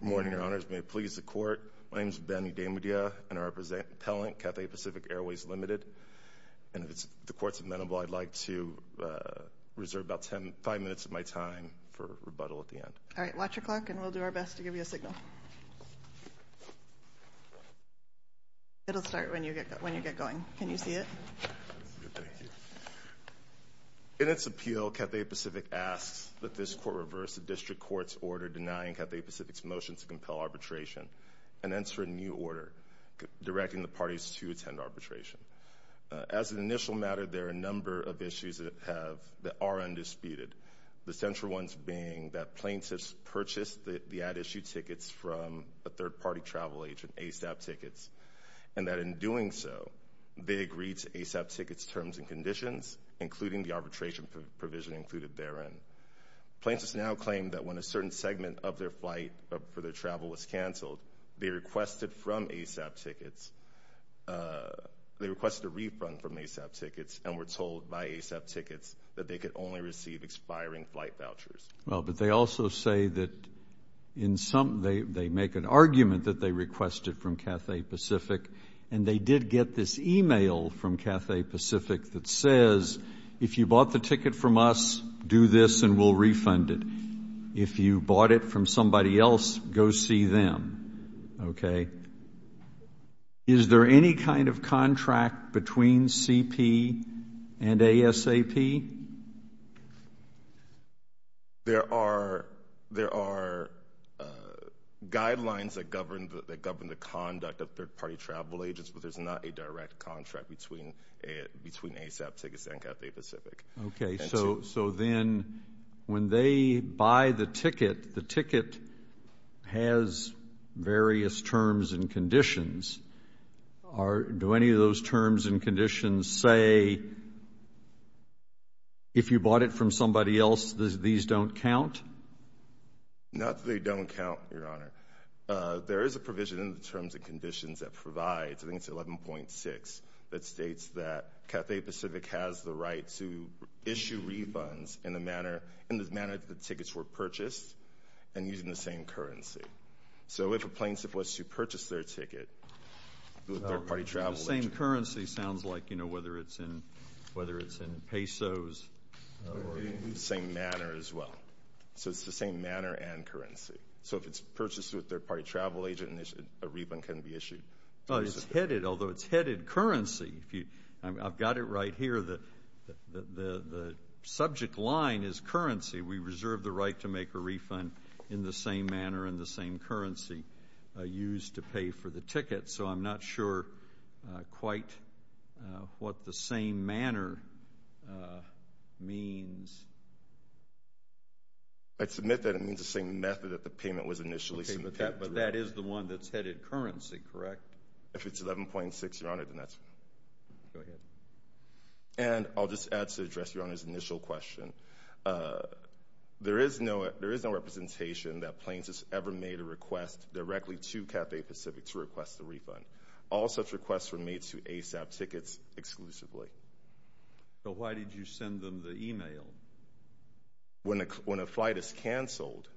Good morning, Your Honors. May it please the Court. My name is Benny DeMudia, Interim Appellant, Cathay Pacific Airways Limited. And if the Court's amenable, I'd like to reserve about five minutes of my time for rebuttal at the end. All right. Watch your clock, and we'll do our best to give you a signal. It'll start when you get going. Can you see it? Thank you. In its appeal, Cathay Pacific asks that this Court reverse the District Court's order denying Cathay Pacific's motion to compel arbitration and enter a new order directing the parties to attend arbitration. As an initial matter, there are a number of issues that are undisputed, the central ones being that plaintiffs purchased the at-issue tickets from a third-party travel agent, ASAP Tickets, and that in doing so, they agreed to ASAP Tickets' terms and conditions, including the arbitration provision included therein. Plaintiffs now claim that when a certain segment of their flight for their travel was canceled, they requested from ASAP Tickets, they requested a refund from ASAP Tickets, and were told by ASAP Tickets that they could only receive expiring flight vouchers. Well, but they also say that in some they make an argument that they requested from Cathay Pacific, and they did get this e-mail from Cathay Pacific that says, if you bought the ticket from us, do this, and we'll refund it. If you bought it from somebody else, go see them. Okay? Is there any kind of contract between CP and ASAP? There are guidelines that govern the conduct of third-party travel agents, but there's not a direct contract between ASAP Tickets and Cathay Pacific. Okay, so then when they buy the ticket, the ticket has various terms and conditions. Do any of those terms and conditions say, if you bought it from somebody else, these don't count? Not that they don't count, Your Honor. There is a provision in the terms and conditions that provides, I think it's 11.6, that states that Cathay Pacific has the right to issue refunds in the manner that the tickets were purchased and using the same currency. So if a plane is supposed to purchase their ticket through a third-party travel agent. The same currency sounds like, you know, whether it's in pesos. The same manner as well. So it's the same manner and currency. So if it's purchased with a third-party travel agent, a refund can be issued. It's headed, although it's headed currency. I've got it right here. The subject line is currency. We reserve the right to make a refund in the same manner and the same currency used to pay for the ticket. So I'm not sure quite what the same manner means. I'd submit that it means the same method that the payment was initially submitted. But that is the one that's headed currency, correct? If it's 11.6, Your Honor, then that's right. Go ahead. And I'll just add to address Your Honor's initial question. There is no representation that planes have ever made a request directly to Cafe Pacific to request a refund. All such requests were made to ASAP Tickets exclusively. So why did you send them the e-mail? When a flight is canceled,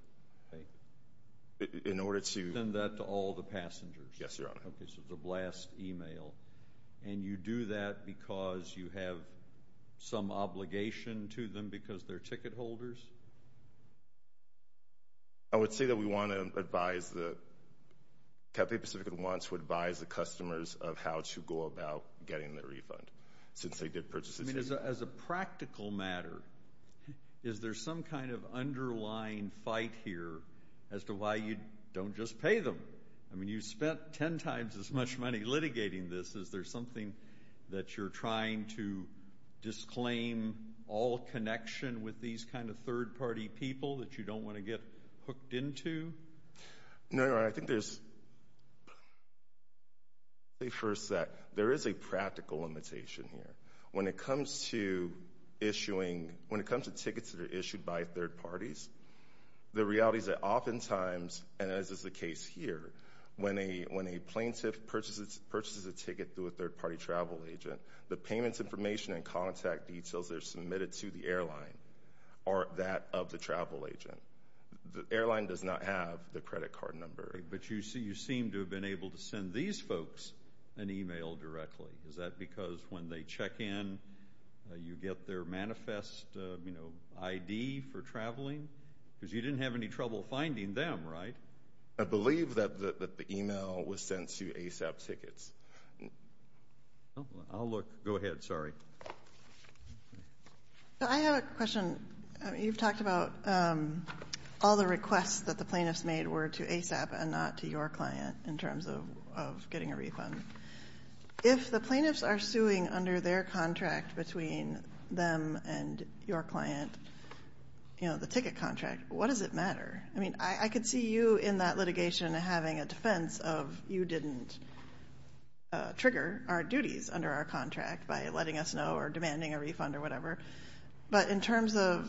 in order to Send that to all the passengers. Yes, Your Honor. Okay, so it's a blast e-mail. And you do that because you have some obligation to them because they're ticket holders? I would say that we want to advise the Cafe Pacific wants to advise the customers of how to go about getting their refund since they did purchase the ticket. As a practical matter, is there some kind of underlying fight here as to why you don't just pay them? I mean, you spent 10 times as much money litigating this. Is there something that you're trying to disclaim all connection with these kind of third-party people that you don't want to get hooked into? No, Your Honor. I think there's There is a practical limitation here. When it comes to issuing, when it comes to tickets that are issued by third parties, The reality is that oftentimes, and as is the case here, when a plaintiff purchases a ticket through a third-party travel agent, The payments information and contact details that are submitted to the airline are that of the travel agent. The airline does not have the credit card number. But you seem to have been able to send these folks an e-mail directly. Is that because when they check in, you get their manifest, you know, ID for traveling? Because you didn't have any trouble finding them, right? I believe that the e-mail was sent to ASAP Tickets. I'll look. Go ahead. Sorry. I have a question. You've talked about all the requests that the plaintiffs made were to ASAP and not to your client in terms of getting a refund. If the plaintiffs are suing under their contract between them and your client, you know, the ticket contract, what does it matter? I mean, I could see you in that litigation having a defense of you didn't trigger our duties under our contract by letting us know or demanding a refund or whatever. But in terms of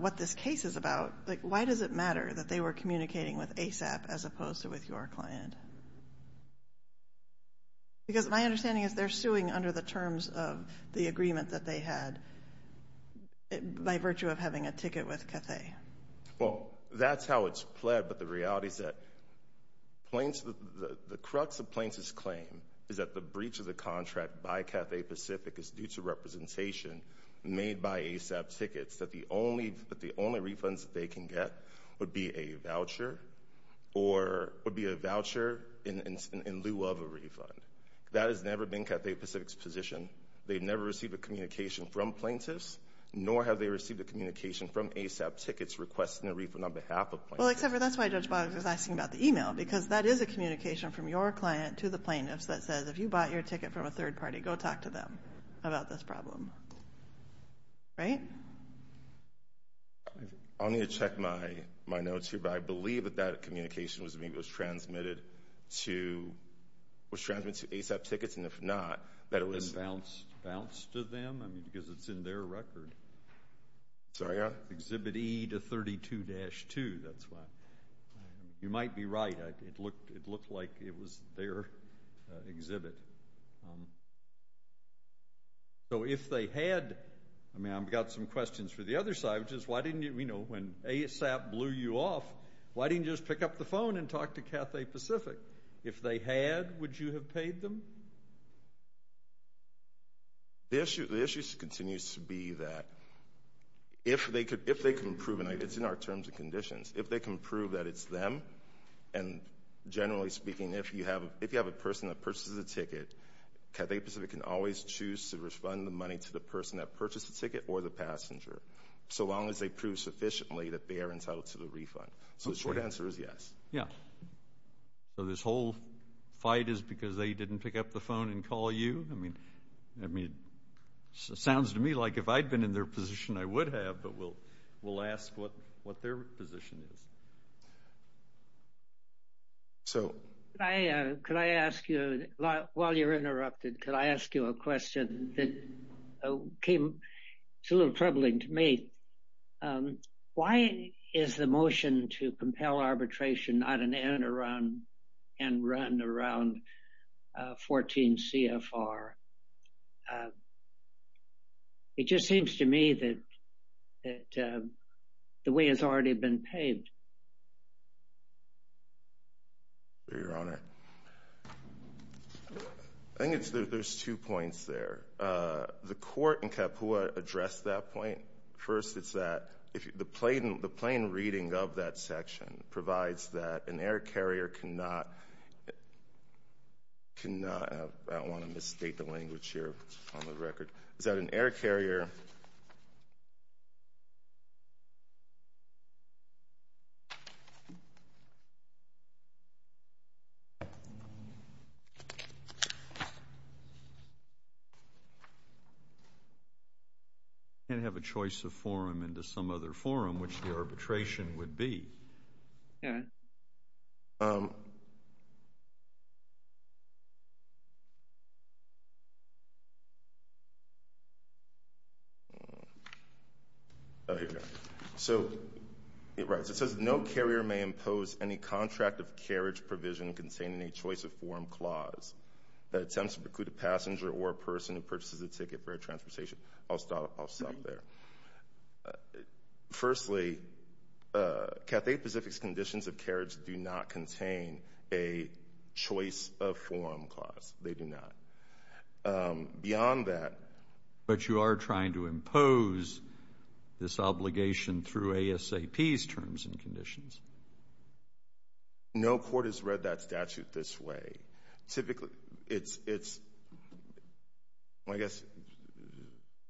what this case is about, like, why does it matter that they were communicating with ASAP as opposed to with your client? Because my understanding is they're suing under the terms of the agreement that they had by virtue of having a ticket with Cathay. Well, that's how it's played. But the reality is that the crux of plaintiff's claim is that the breach of the contract by Cathay Pacific is due to representation made by ASAP Tickets, that the only refunds that they can get would be a voucher or would be a voucher in lieu of a refund. That has never been Cathay Pacific's position. They've never received a communication from plaintiffs, nor have they received a communication from ASAP Tickets requesting a refund on behalf of plaintiffs. Well, except for that's why Judge Boggs was asking about the email, because that is a communication from your client to the plaintiffs that says, if you bought your ticket from a third party, go talk to them about this problem. Right? I'll need to check my notes here. But I believe that that communication was transmitted to ASAP Tickets, and if not, that it was – And bounced to them? I mean, because it's in their record. Sorry, yeah? Exhibit E to 32-2, that's why. You might be right. It looked like it was their exhibit. So if they had – I mean, I've got some questions for the other side, which is why didn't you – you know, when ASAP blew you off, why didn't you just pick up the phone and talk to Cathay Pacific? If they had, would you have paid them? The issue continues to be that if they can prove – and it's in our terms and conditions – if they can prove that it's them, and generally speaking, if you have a person that purchases a ticket, Cathay Pacific can always choose to refund the money to the person that purchased the ticket or the passenger, so long as they prove sufficiently that they are entitled to the refund. So the short answer is yes. So this whole fight is because they didn't pick up the phone and call you? I mean, it sounds to me like if I'd been in their position, I would have, but we'll ask what their position is. Could I ask you, while you're interrupted, could I ask you a question that came – it's a little troubling to me. Why is the motion to compel arbitration not an interim and run around 14 CFR? It just seems to me that the way it's already been paved. Your Honor, I think there's two points there. The court in Kapua addressed that point. First, it's that the plain reading of that section provides that an air carrier cannot – I don't want to misstate the language here on the record – is that an air carrier can't have a choice of forum into some other forum, which the arbitration would be. Your Honor? So it writes, it says, no carrier may impose any contract of carriage provision containing a choice of forum clause that attempts to preclude a passenger or a person who purchases a ticket for a transportation. I'll stop there. Firstly, Cathay Pacific's conditions of carriage do not contain a choice of forum clause. They do not. Beyond that – But you are trying to impose this obligation through ASAP's terms and conditions. No court has read that statute this way. Typically, it's – I guess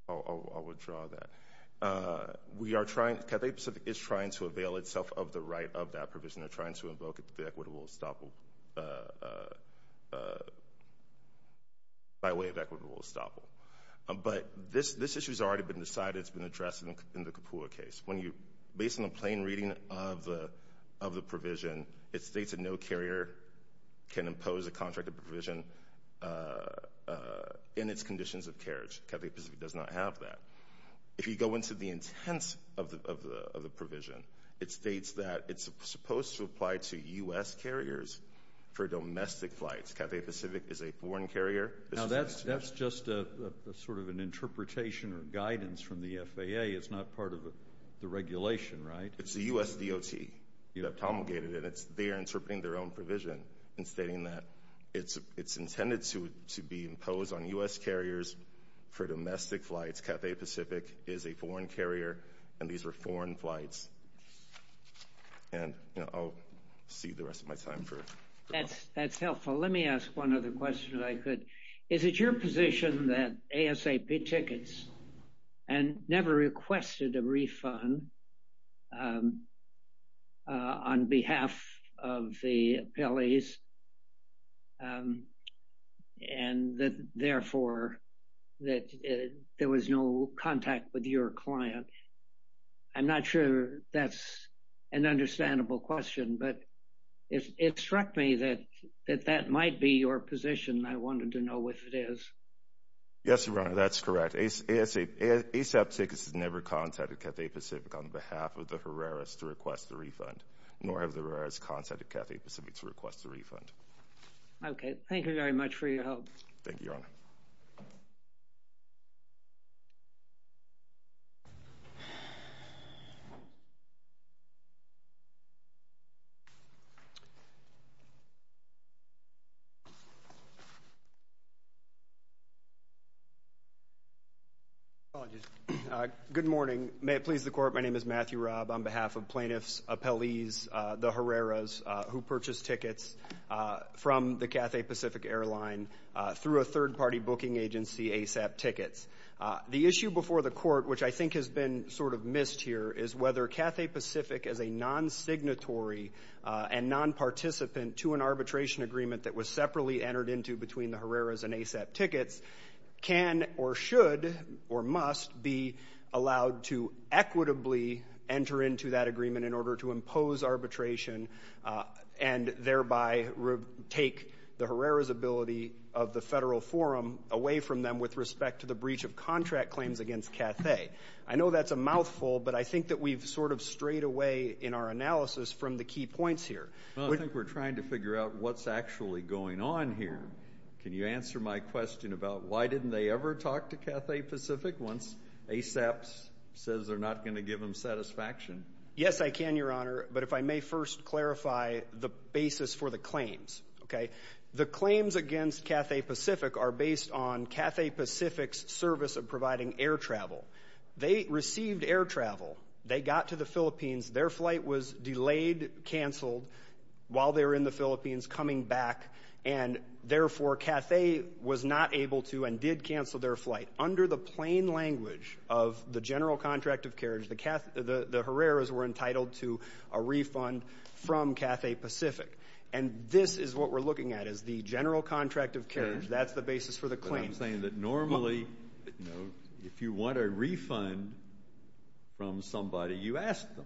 I'll withdraw that. We are trying – Cathay Pacific is trying to avail itself of the right of that provision. They're trying to invoke the equitable estoppel by way of equitable estoppel. But this issue has already been decided. It's been addressed in the Kapua case. Based on the plain reading of the provision, it states that no carrier can impose a contract of provision in its conditions of carriage. Cathay Pacific does not have that. If you go into the intent of the provision, it states that it's supposed to apply to U.S. carriers for domestic flights. Cathay Pacific is a foreign carrier. Now, that's just sort of an interpretation or guidance from the FAA. It's not part of the regulation, right? It's the U.S. DOT that promulgated it. They are interpreting their own provision and stating that it's intended to be imposed on U.S. carriers for domestic flights. Cathay Pacific is a foreign carrier, and these are foreign flights. And I'll see the rest of my time for – That's helpful. Let me ask one other question, if I could. Is it your position that ASAP tickets and never requested a refund on behalf of the appellees and that, therefore, that there was no contact with your client? I'm not sure that's an understandable question, but it struck me that that might be your position, and I wanted to know if it is. Yes, Your Honor, that's correct. ASAP tickets has never contacted Cathay Pacific on behalf of the Herreras to request a refund, nor have the Herreras contacted Cathay Pacific to request a refund. Okay. Thank you very much for your help. Thank you, Your Honor. Thank you. Good morning. May it please the Court, my name is Matthew Robb. On behalf of plaintiffs, appellees, the Herreras who purchased tickets from the Cathay Pacific airline through a third-party booking agency, ASAP Tickets. The issue before the Court, which I think has been sort of missed here, is whether Cathay Pacific, as a non-signatory and non-participant to an arbitration agreement that was separately entered into between the Herreras and ASAP Tickets, can or should or must be allowed to equitably enter into that agreement in order to impose arbitration and thereby take the Herreras' ability of the federal forum away from them with respect to the breach of contract claims against Cathay. I know that's a mouthful, but I think that we've sort of strayed away in our analysis from the key points here. Well, I think we're trying to figure out what's actually going on here. Can you answer my question about why didn't they ever talk to Cathay Pacific once ASAP says they're not going to give them satisfaction? Yes, I can, Your Honor, but if I may first clarify the basis for the claims. The claims against Cathay Pacific are based on Cathay Pacific's service of providing air travel. They received air travel. They got to the Philippines. Their flight was delayed, canceled while they were in the Philippines, coming back, and therefore Cathay was not able to and did cancel their flight. Under the plain language of the general contract of carriage, the Herreras were entitled to a refund from Cathay Pacific. And this is what we're looking at is the general contract of carriage. That's the basis for the claims. But I'm saying that normally if you want a refund from somebody, you ask them.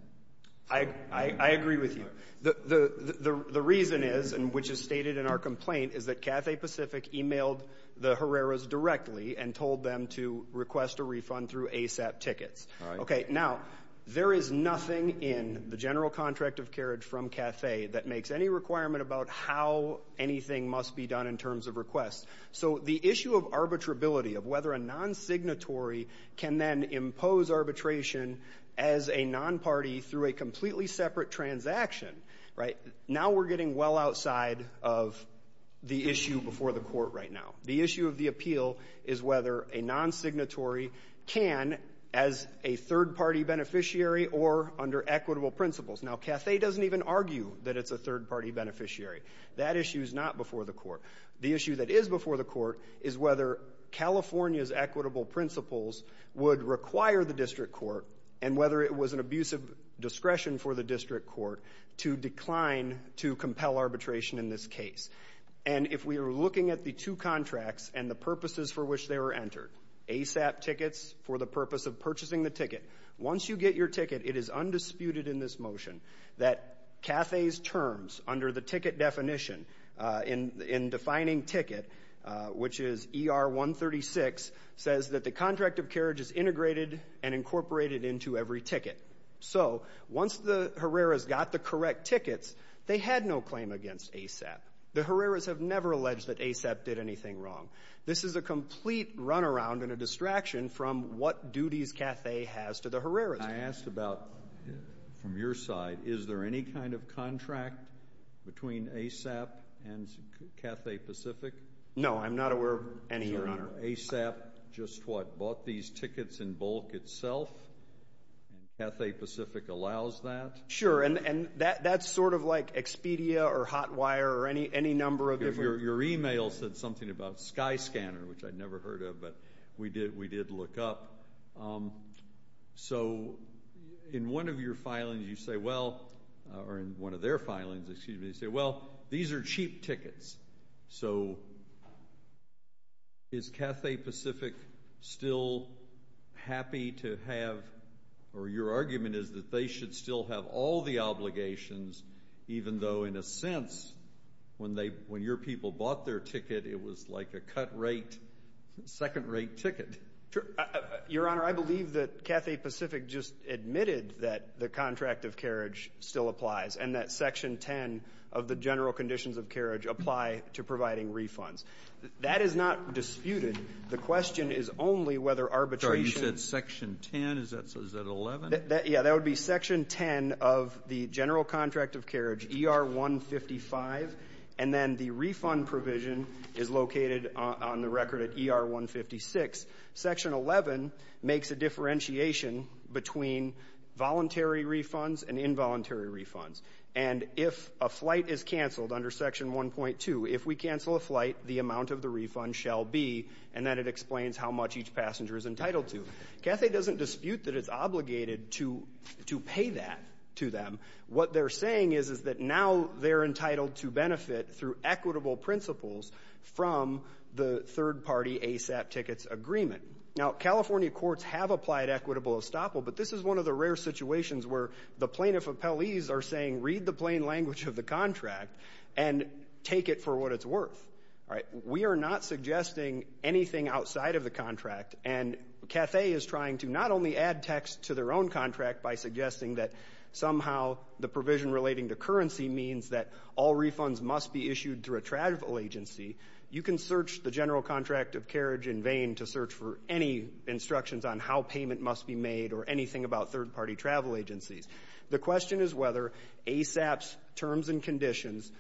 I agree with you. The reason is, and which is stated in our complaint, is that Cathay Pacific emailed the Herreras directly and told them to request a refund through ASAP tickets. Okay. Now, there is nothing in the general contract of carriage from Cathay that makes any requirement about how anything must be done in terms of requests. So the issue of arbitrability, of whether a non-signatory can then impose arbitration as a non-party through a completely separate transaction, right, now we're getting well outside of the issue before the court right now. The issue of the appeal is whether a non-signatory can as a third-party beneficiary or under equitable principles. Now, Cathay doesn't even argue that it's a third-party beneficiary. That issue is not before the court. The issue that is before the court is whether California's equitable principles would require the district court and whether it was an abuse of discretion for the district court to decline to compel arbitration in this case. And if we are looking at the two contracts and the purposes for which they were entered, ASAP tickets for the purpose of purchasing the ticket, once you get your ticket, it is undisputed in this motion that Cathay's terms under the ticket definition in defining ticket, which is ER 136, says that the contract of carriage is integrated and incorporated into every ticket. So once the Herreras got the correct tickets, they had no claim against ASAP. The Herreras have never alleged that ASAP did anything wrong. This is a complete runaround and a distraction from what duties Cathay has to the Herreras. I asked about, from your side, is there any kind of contract between ASAP and Cathay Pacific? No, I'm not aware of any, Your Honor. So ASAP just, what, bought these tickets in bulk itself, and Cathay Pacific allows that? Sure, and that's sort of like Expedia or Hotwire or any number of different. Your email said something about Skyscanner, which I'd never heard of, but we did look up. So in one of your filings you say, well, or in one of their filings, excuse me, you say, well, these are cheap tickets. So is Cathay Pacific still happy to have, or your argument is that they should still have all the obligations, even though, in a sense, when your people bought their ticket, it was like a cut rate, second rate ticket? Sure. Your Honor, I believe that Cathay Pacific just admitted that the contract of carriage still applies and that Section 10 of the general conditions of carriage apply to providing refunds. That is not disputed. The question is only whether arbitration. Sorry, you said Section 10? Is that 11? Yeah, that would be Section 10 of the general contract of carriage, ER 155, and then the refund provision is located on the record at ER 156. Section 11 makes a differentiation between voluntary refunds and involuntary refunds. And if a flight is canceled under Section 1.2, if we cancel a flight, the amount of the refund shall be, and then it explains how much each passenger is entitled to. Cathay doesn't dispute that it's obligated to pay that to them. What they're saying is that now they're entitled to benefit through equitable principles from the third-party ASAP tickets agreement. Now, California courts have applied equitable estoppel, but this is one of the rare situations where the plaintiff appellees are saying, read the plain language of the contract and take it for what it's worth. And Cathay is trying to not only add text to their own contract by suggesting that somehow the provision relating to currency means that all refunds must be issued through a travel agency. You can search the general contract of carriage in vain to search for any instructions on how payment must be made or anything about third-party travel agencies. The question is whether ASAP's terms and conditions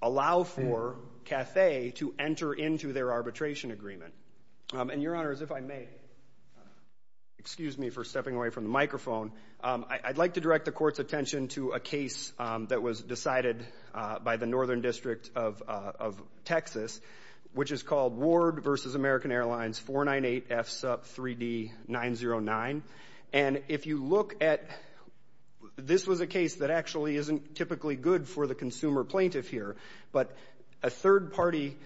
allow for Cathay to enter into their arbitration agreement. And, Your Honor, as if I may, excuse me for stepping away from the microphone, I'd like to direct the court's attention to a case that was decided by the Northern District of Texas, which is called Ward v. American Airlines 498F Sup 3D909. And if you look at this was a case that actually isn't typically good for the consumer plaintiff here, but a third-party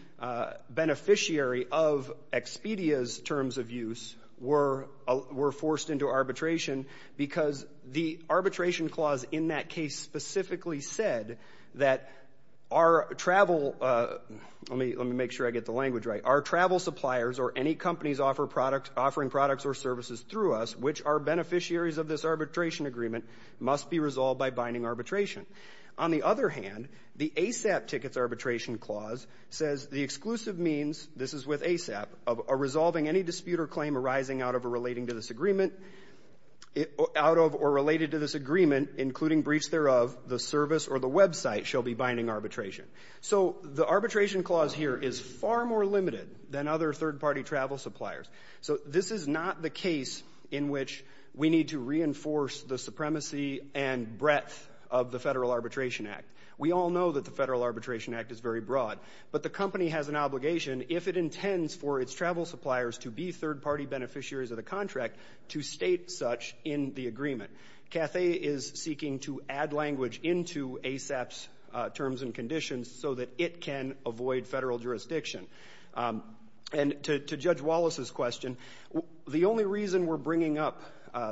beneficiary of Expedia's terms of use were forced into arbitration because the arbitration clause in that case specifically said that our travel, let me make sure I get the language right, our travel suppliers or any companies offering products or services through us, which are beneficiaries of this arbitration agreement, must be resolved by binding arbitration. On the other hand, the ASAP tickets arbitration clause says the exclusive means, this is with ASAP, of resolving any dispute or claim arising out of or related to this agreement, including breach thereof, the service or the website shall be binding arbitration. So the arbitration clause here is far more limited than other third-party travel suppliers. So this is not the case in which we need to reinforce the supremacy and breadth of the Federal Arbitration Act. We all know that the Federal Arbitration Act is very broad, but the company has an obligation if it intends for its travel suppliers to be third-party beneficiaries of the contract to state such in the agreement. Cathay is seeking to add language into ASAP's terms and conditions so that it can avoid federal jurisdiction. And to Judge Wallace's question, the only reason we're bringing up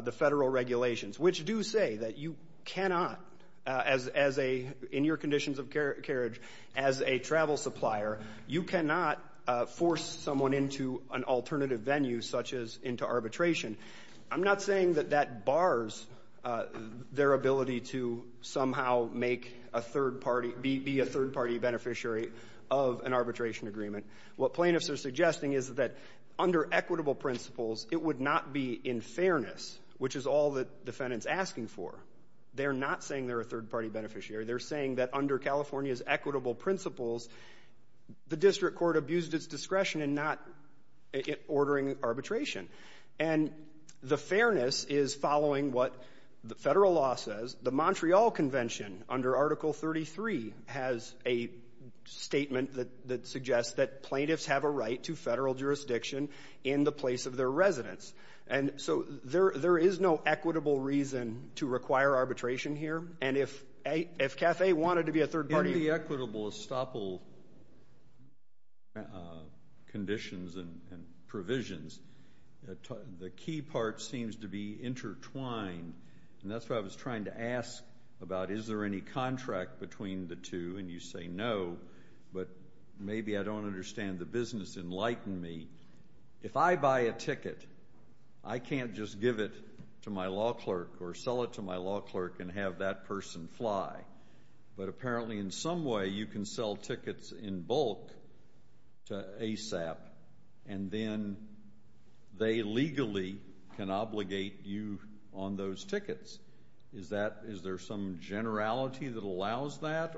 the federal regulations, which do say that you cannot as a, in your conditions of carriage, as a travel supplier, you cannot force someone into an alternative venue such as into arbitration, I'm not saying that that bars their ability to somehow make a third party, be a third-party beneficiary of an arbitration agreement. What plaintiffs are suggesting is that under equitable principles, it would not be in fairness, which is all the defendant's asking for. They're not saying they're a third-party beneficiary. They're saying that under California's equitable principles, the district court abused its discretion in not ordering arbitration. And the fairness is following what the Federal law says. The Montreal Convention, under Article 33, has a statement that suggests that plaintiffs have a right to federal jurisdiction in the place of their residence. And so there is no equitable reason to require arbitration here. And if Cathay wanted to be a third party ---- In the equitable estoppel conditions and provisions, the key part seems to be intertwined. And that's what I was trying to ask about. Is there any contract between the two? And you say no, but maybe I don't understand the business. Enlighten me. If I buy a ticket, I can't just give it to my law clerk or sell it to my law clerk and have that person fly. And then they legally can obligate you on those tickets. Is there some generality that allows that?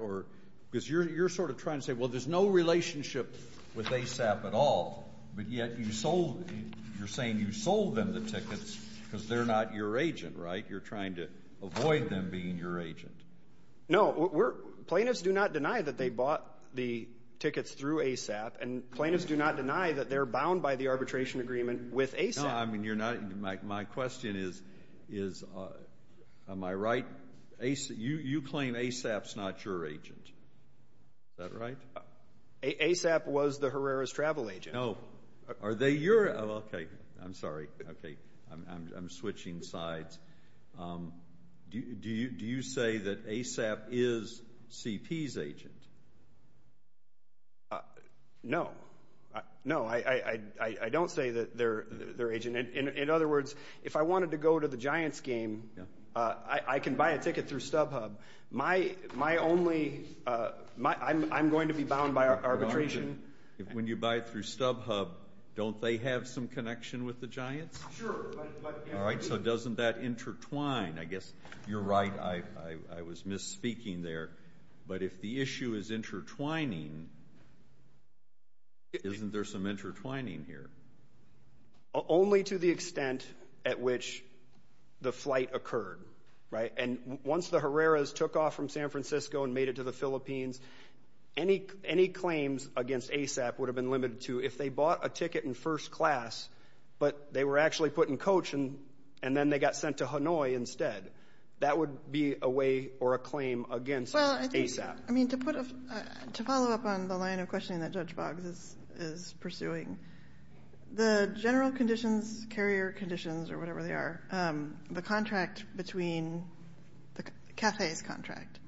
Because you're sort of trying to say, well, there's no relationship with ASAP at all, but yet you're saying you sold them the tickets because they're not your agent, right? You're trying to avoid them being your agent. No. Plaintiffs do not deny that they bought the tickets through ASAP. And plaintiffs do not deny that they're bound by the arbitration agreement with ASAP. No, I mean, you're not. My question is, am I right? You claim ASAP's not your agent. Is that right? ASAP was the Herrera's travel agent. No. Are they your? Okay. I'm sorry. Okay. I'm switching sides. Do you say that ASAP is CP's agent? No. No, I don't say that they're agent. In other words, if I wanted to go to the Giants game, I can buy a ticket through StubHub. My only ‑‑ I'm going to be bound by arbitration. When you buy through StubHub, don't they have some connection with the Giants? Sure. All right, so doesn't that intertwine? I guess you're right. I was misspeaking there. But if the issue is intertwining, isn't there some intertwining here? Only to the extent at which the flight occurred, right? And once the Herrera's took off from San Francisco and made it to the Philippines, any claims against ASAP would have been limited to if they bought a ticket in first class, but they were actually put in coach and then they got sent to Hanoi instead. That would be a way or a claim against ASAP. I mean, to put a ‑‑ to follow up on the line of questioning that Judge Boggs is pursuing, the general conditions, carrier conditions or whatever they are, the contract between ‑‑ the CAFE's contract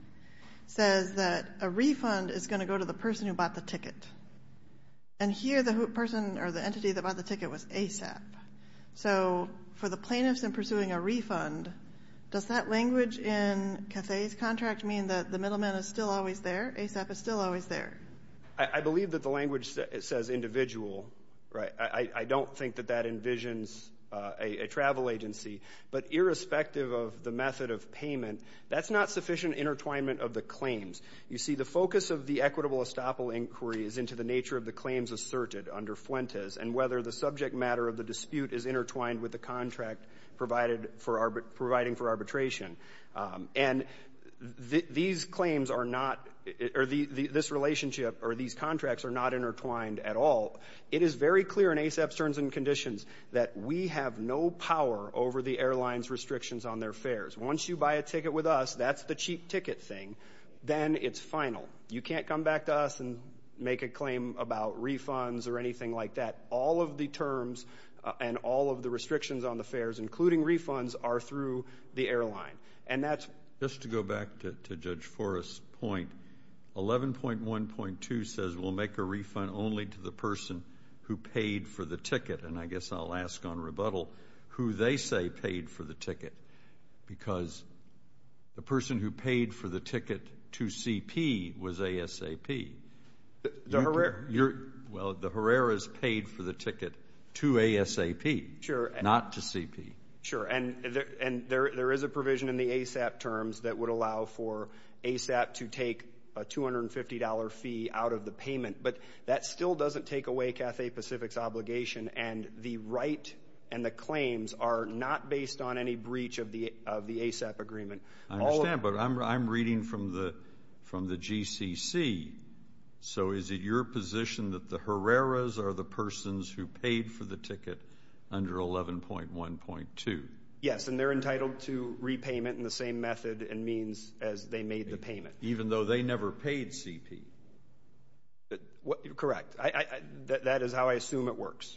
says that a refund is going to go to the person who bought the ticket. And here the person or the entity that bought the ticket was ASAP. So for the plaintiffs in pursuing a refund, does that language in CAFE's contract mean that the middleman is still always there? ASAP is still always there? I believe that the language says individual, right? I don't think that that envisions a travel agency. But irrespective of the method of payment, that's not sufficient intertwinement of the claims. You see, the focus of the equitable estoppel inquiry is into the nature of the claims asserted under Fuentes and whether the subject matter of the dispute is intertwined with the contract providing for arbitration. And these claims are not ‑‑ or this relationship or these contracts are not intertwined at all. It is very clear in ASAP's terms and conditions that we have no power over the airline's restrictions on their fares. Once you buy a ticket with us, that's the cheap ticket thing. Then it's final. You can't come back to us and make a claim about refunds or anything like that. All of the terms and all of the restrictions on the fares, including refunds, are through the airline. And that's ‑‑ Just to go back to Judge Forrest's point, 11.1.2 says we'll make a refund only to the person who paid for the ticket. And I guess I'll ask on rebuttal who they say paid for the ticket because the person who paid for the ticket to CP was ASAP. The Herrera. Well, the Herrera's paid for the ticket to ASAP. Sure. Not to CP. Sure. And there is a provision in the ASAP terms that would allow for ASAP to take a $250 fee out of the payment. But that still doesn't take away Cathay Pacific's obligation, and the right and the claims are not based on any breach of the ASAP agreement. I understand, but I'm reading from the GCC. So is it your position that the Herrera's are the persons who paid for the ticket under 11.1.2? Yes, and they're entitled to repayment in the same method and means as they made the payment. Even though they never paid CP? Correct. That is how I assume it works.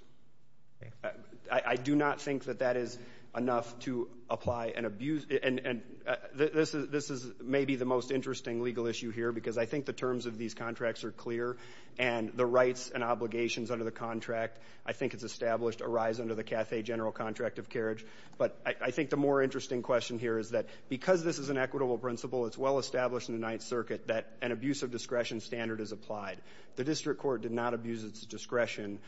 I do not think that that is enough to apply an abuse. And this is maybe the most interesting legal issue here because I think the terms of these contracts are clear, and the rights and obligations under the contract, I think it's established, arise under the Cathay general contract of carriage. But I think the more interesting question here is that because this is an equitable principle, it's well established in the Ninth Circuit that an abuse of discretion standard is applied. The district court did not abuse its discretion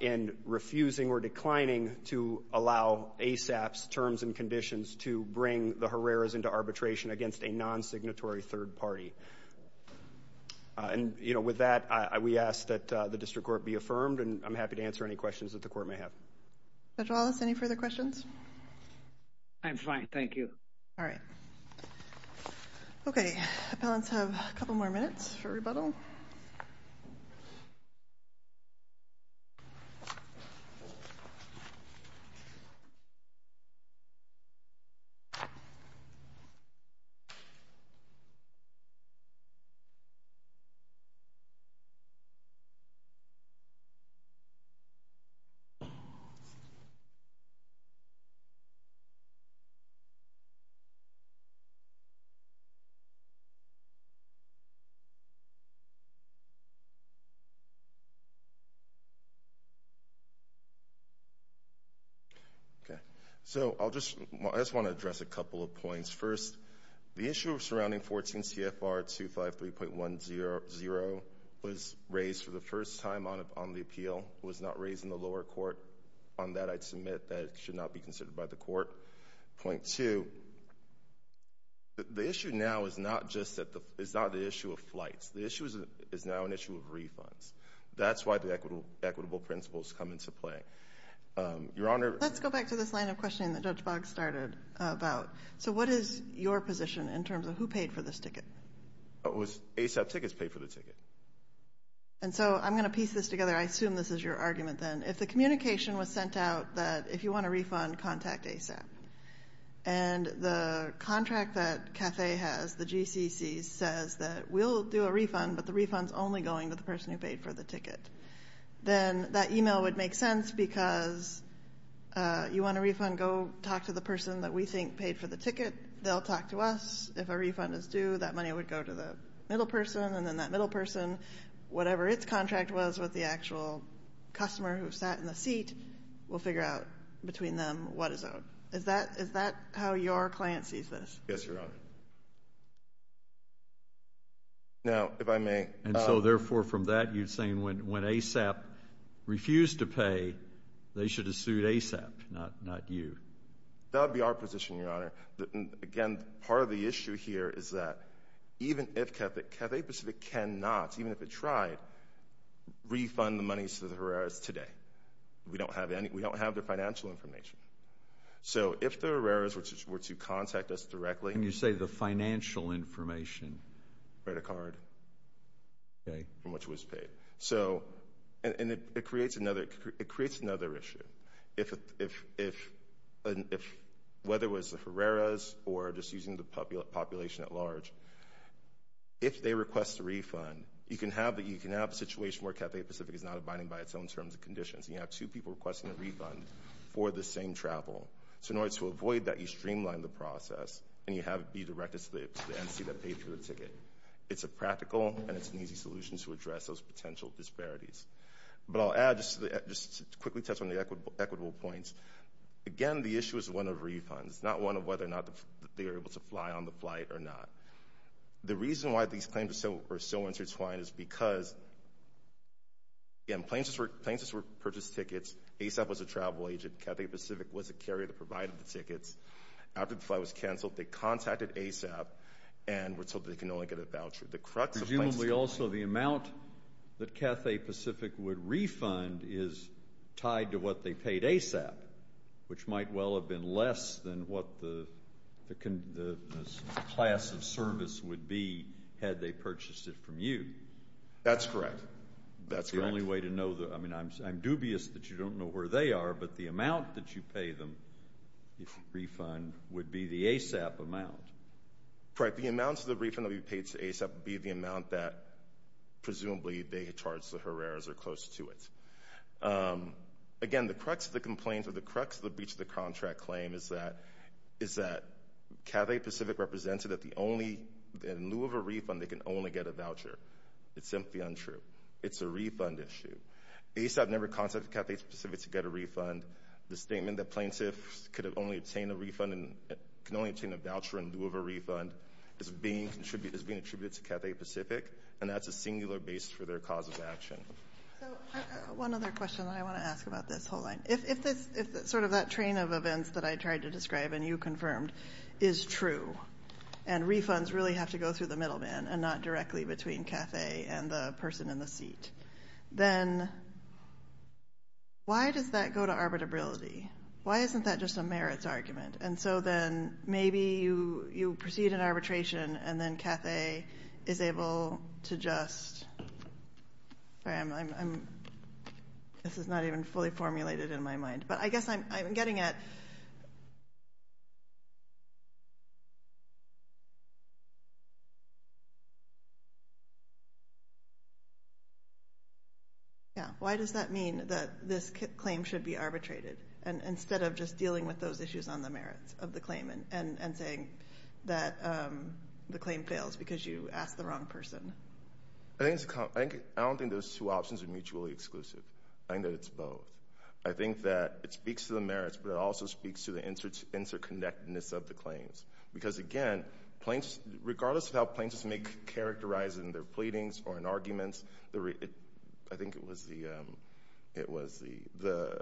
in refusing or declining to allow ASAP's terms and conditions to bring the Herrera's into arbitration against a non-signatory third party. And, you know, with that, we ask that the district court be affirmed, and I'm happy to answer any questions that the court may have. Judge Wallace, any further questions? I'm fine, thank you. All right. Okay. Okay. So I just want to address a couple of points. First, the issue surrounding 14 CFR 253.10 was raised for the first time on the appeal. It was not raised in the lower court. On that, I'd submit that it should not be considered by the court. Point two, the issue now is not the issue of flights. The issue is now an issue of refunds. That's why the equitable principles come into play. Your Honor. Let's go back to this line of questioning that Judge Boggs started about. So what is your position in terms of who paid for this ticket? It was ASAP tickets paid for the ticket. And so I'm going to piece this together. I assume this is your argument then. If the communication was sent out that if you want a refund, contact ASAP, and the contract that CAFE has, the GCC, says that we'll do a refund, but the refund is only going to the person who paid for the ticket, then that e-mail would make sense because you want a refund, go talk to the person that we think paid for the ticket. They'll talk to us. If a refund is due, that money would go to the middle person, and then that middle person, whatever its contract was, goes with the actual customer who sat in the seat, will figure out between them what is owed. Is that how your client sees this? Yes, Your Honor. Now, if I may. And so, therefore, from that, you're saying when ASAP refused to pay, they should have sued ASAP, not you. That would be our position, Your Honor. Again, part of the issue here is that even if CAFE Pacific cannot, even if it tried, refund the money to the Herreras today. We don't have their financial information. So if the Herreras were to contact us directly. Can you say the financial information? Credit card from which it was paid. And it creates another issue. Whether it was the Herreras or just using the population at large, if they request a refund, you can have a situation where CAFE Pacific is not abiding by its own terms and conditions, and you have two people requesting a refund for the same travel. So in order to avoid that, you streamline the process, and you have it be directed to the entity that paid for the ticket. It's a practical and it's an easy solution to address those potential disparities. But I'll add, just to quickly touch on the equitable points, again, the issue is one of refunds, not one of whether or not they are able to fly on the flight or not. The reason why these claims are so intertwined is because, again, planes were purchased tickets. ASAP was a travel agent. CAFE Pacific was a carrier that provided the tickets. After the flight was canceled, they contacted ASAP and were told that they can only get a voucher. The crux of planes is coming. Presumably also the amount that CAFE Pacific would refund is tied to what they paid ASAP, which might well have been less than what the class of service would be had they purchased it from you. That's correct. That's the only way to know. I mean, I'm dubious that you don't know where they are, but the amount that you pay them if you refund would be the ASAP amount. Correct. The amounts of the refund that would be paid to ASAP would be the amount that presumably they charge the Herreras or close to it. Again, the crux of the complaints or the crux of the breach of the contract claim is that CAFE Pacific represented that in lieu of a refund they can only get a voucher. It's simply untrue. It's a refund issue. ASAP never contacted CAFE Pacific to get a refund. The statement that plaintiffs could only obtain a voucher in lieu of a refund is being attributed to CAFE Pacific, and that's a singular basis for their cause of action. One other question that I want to ask about this. Hold on. If sort of that train of events that I tried to describe and you confirmed is true and refunds really have to go through the middleman and not directly between CAFE and the person in the seat, then why does that go to arbitrability? Why isn't that just a merits argument? And so then maybe you proceed in arbitration and then CAFE is able to just ---- I'm sorry. This is not even fully formulated in my mind. But I guess I'm getting at ---- Yeah, why does that mean that this claim should be arbitrated instead of just dealing with those issues on the merits of the claim and saying that the claim fails because you asked the wrong person? I don't think those two options are mutually exclusive. I think that it's both. I think that it speaks to the merits, but it also speaks to the interconnectedness of the claims. Because, again, regardless of how plaintiffs may characterize it in their pleadings or in arguments, I think it was the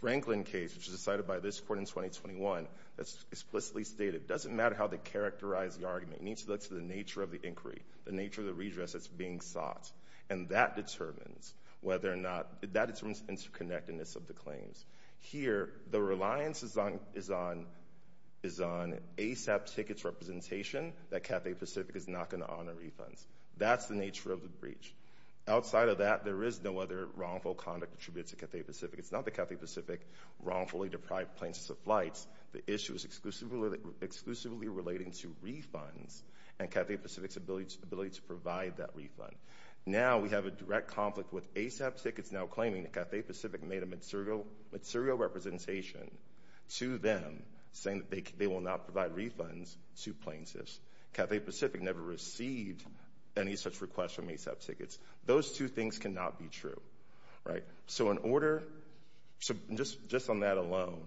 Franklin case, which was decided by this Court in 2021, that's explicitly stated. It doesn't matter how they characterize the argument. It needs to look to the nature of the inquiry, the nature of the redress that's being sought. And that determines interconnectedness of the claims. Here the reliance is on ASAP tickets representation, that Cathay Pacific is not going to honor refunds. That's the nature of the breach. Outside of that, there is no other wrongful conduct attributed to Cathay Pacific. It's not that Cathay Pacific wrongfully deprived plaintiffs of flights. The issue is exclusively relating to refunds and Cathay Pacific's ability to provide that refund. Now we have a direct conflict with ASAP tickets now claiming that Cathay Pacific made a material representation to them saying that they will not provide refunds to plaintiffs. Cathay Pacific never received any such request from ASAP tickets. Those two things cannot be true, right? So just on that alone,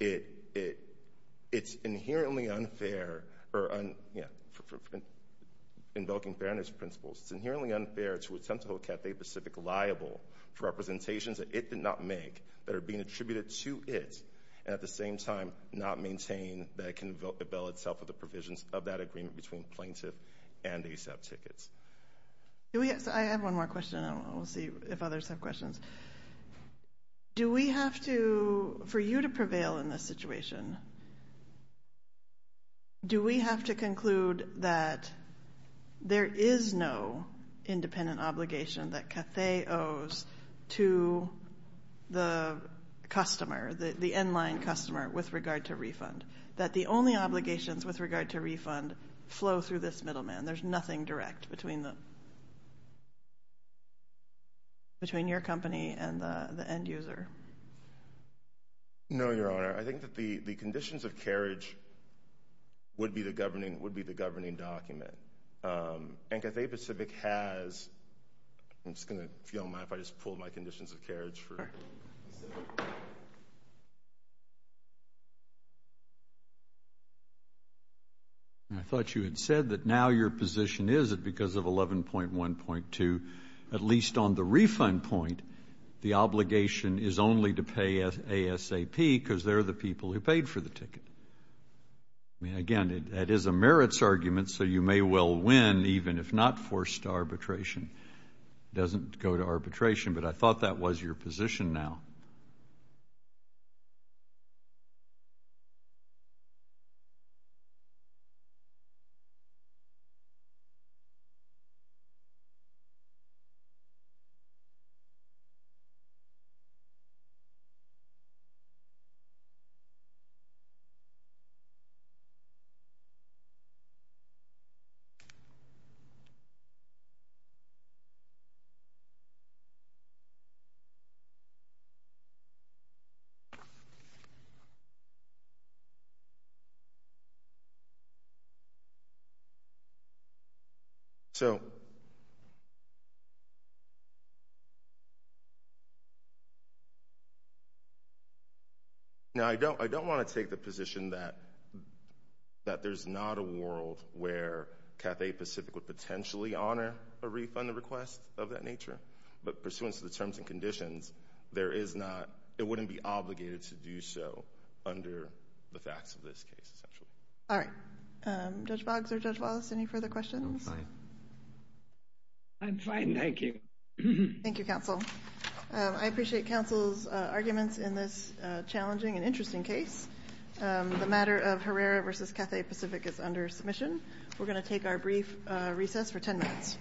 it's inherently unfair or, you know, invoking fairness principles. It's inherently unfair to attempt to hold Cathay Pacific liable for representations that it did not make that are being attributed to it and at the same time not maintain that it can avail itself of the provisions of that agreement between plaintiff and ASAP tickets. I have one more question. We'll see if others have questions. Do we have to, for you to prevail in this situation, do we have to conclude that there is no independent obligation that Cathay owes to the customer, the in-line customer with regard to refund, that the only obligations with regard to refund flow through this middleman? There's nothing direct between your company and the end user? No, Your Honor. I think that the conditions of carriage would be the governing document. And Cathay Pacific has, I'm just going to, if you don't mind if I just pull my conditions of carriage. I thought you had said that now your position is that because of 11.1.2, at least on the refund point, the obligation is only to pay ASAP because they're the people who paid for the ticket. Again, that is a merits argument, so you may well win even if not forced arbitration. It doesn't go to arbitration, but I thought that was your position now. Thank you. Thank you. Thank you. Thank you. Thank you. Thank you. Thank you. Thank you. Thank you. Thank you. Thank you. Now, I don't want to take the position that there's not a world where Cathay Pacific would potentially honor a refund request of that nature, but pursuant to the terms and conditions, there is not, it wouldn't be obligated to do so under the facts of this case, essentially. All right. Judge Boggs or Judge Wallace, any further questions? I'm fine. I'm fine. Thank you. Thank you, counsel. I appreciate counsel's arguments in this challenging and interesting case. The matter of Herrera v. Cathay Pacific is under submission. We're going to take our brief recess for 10 minutes.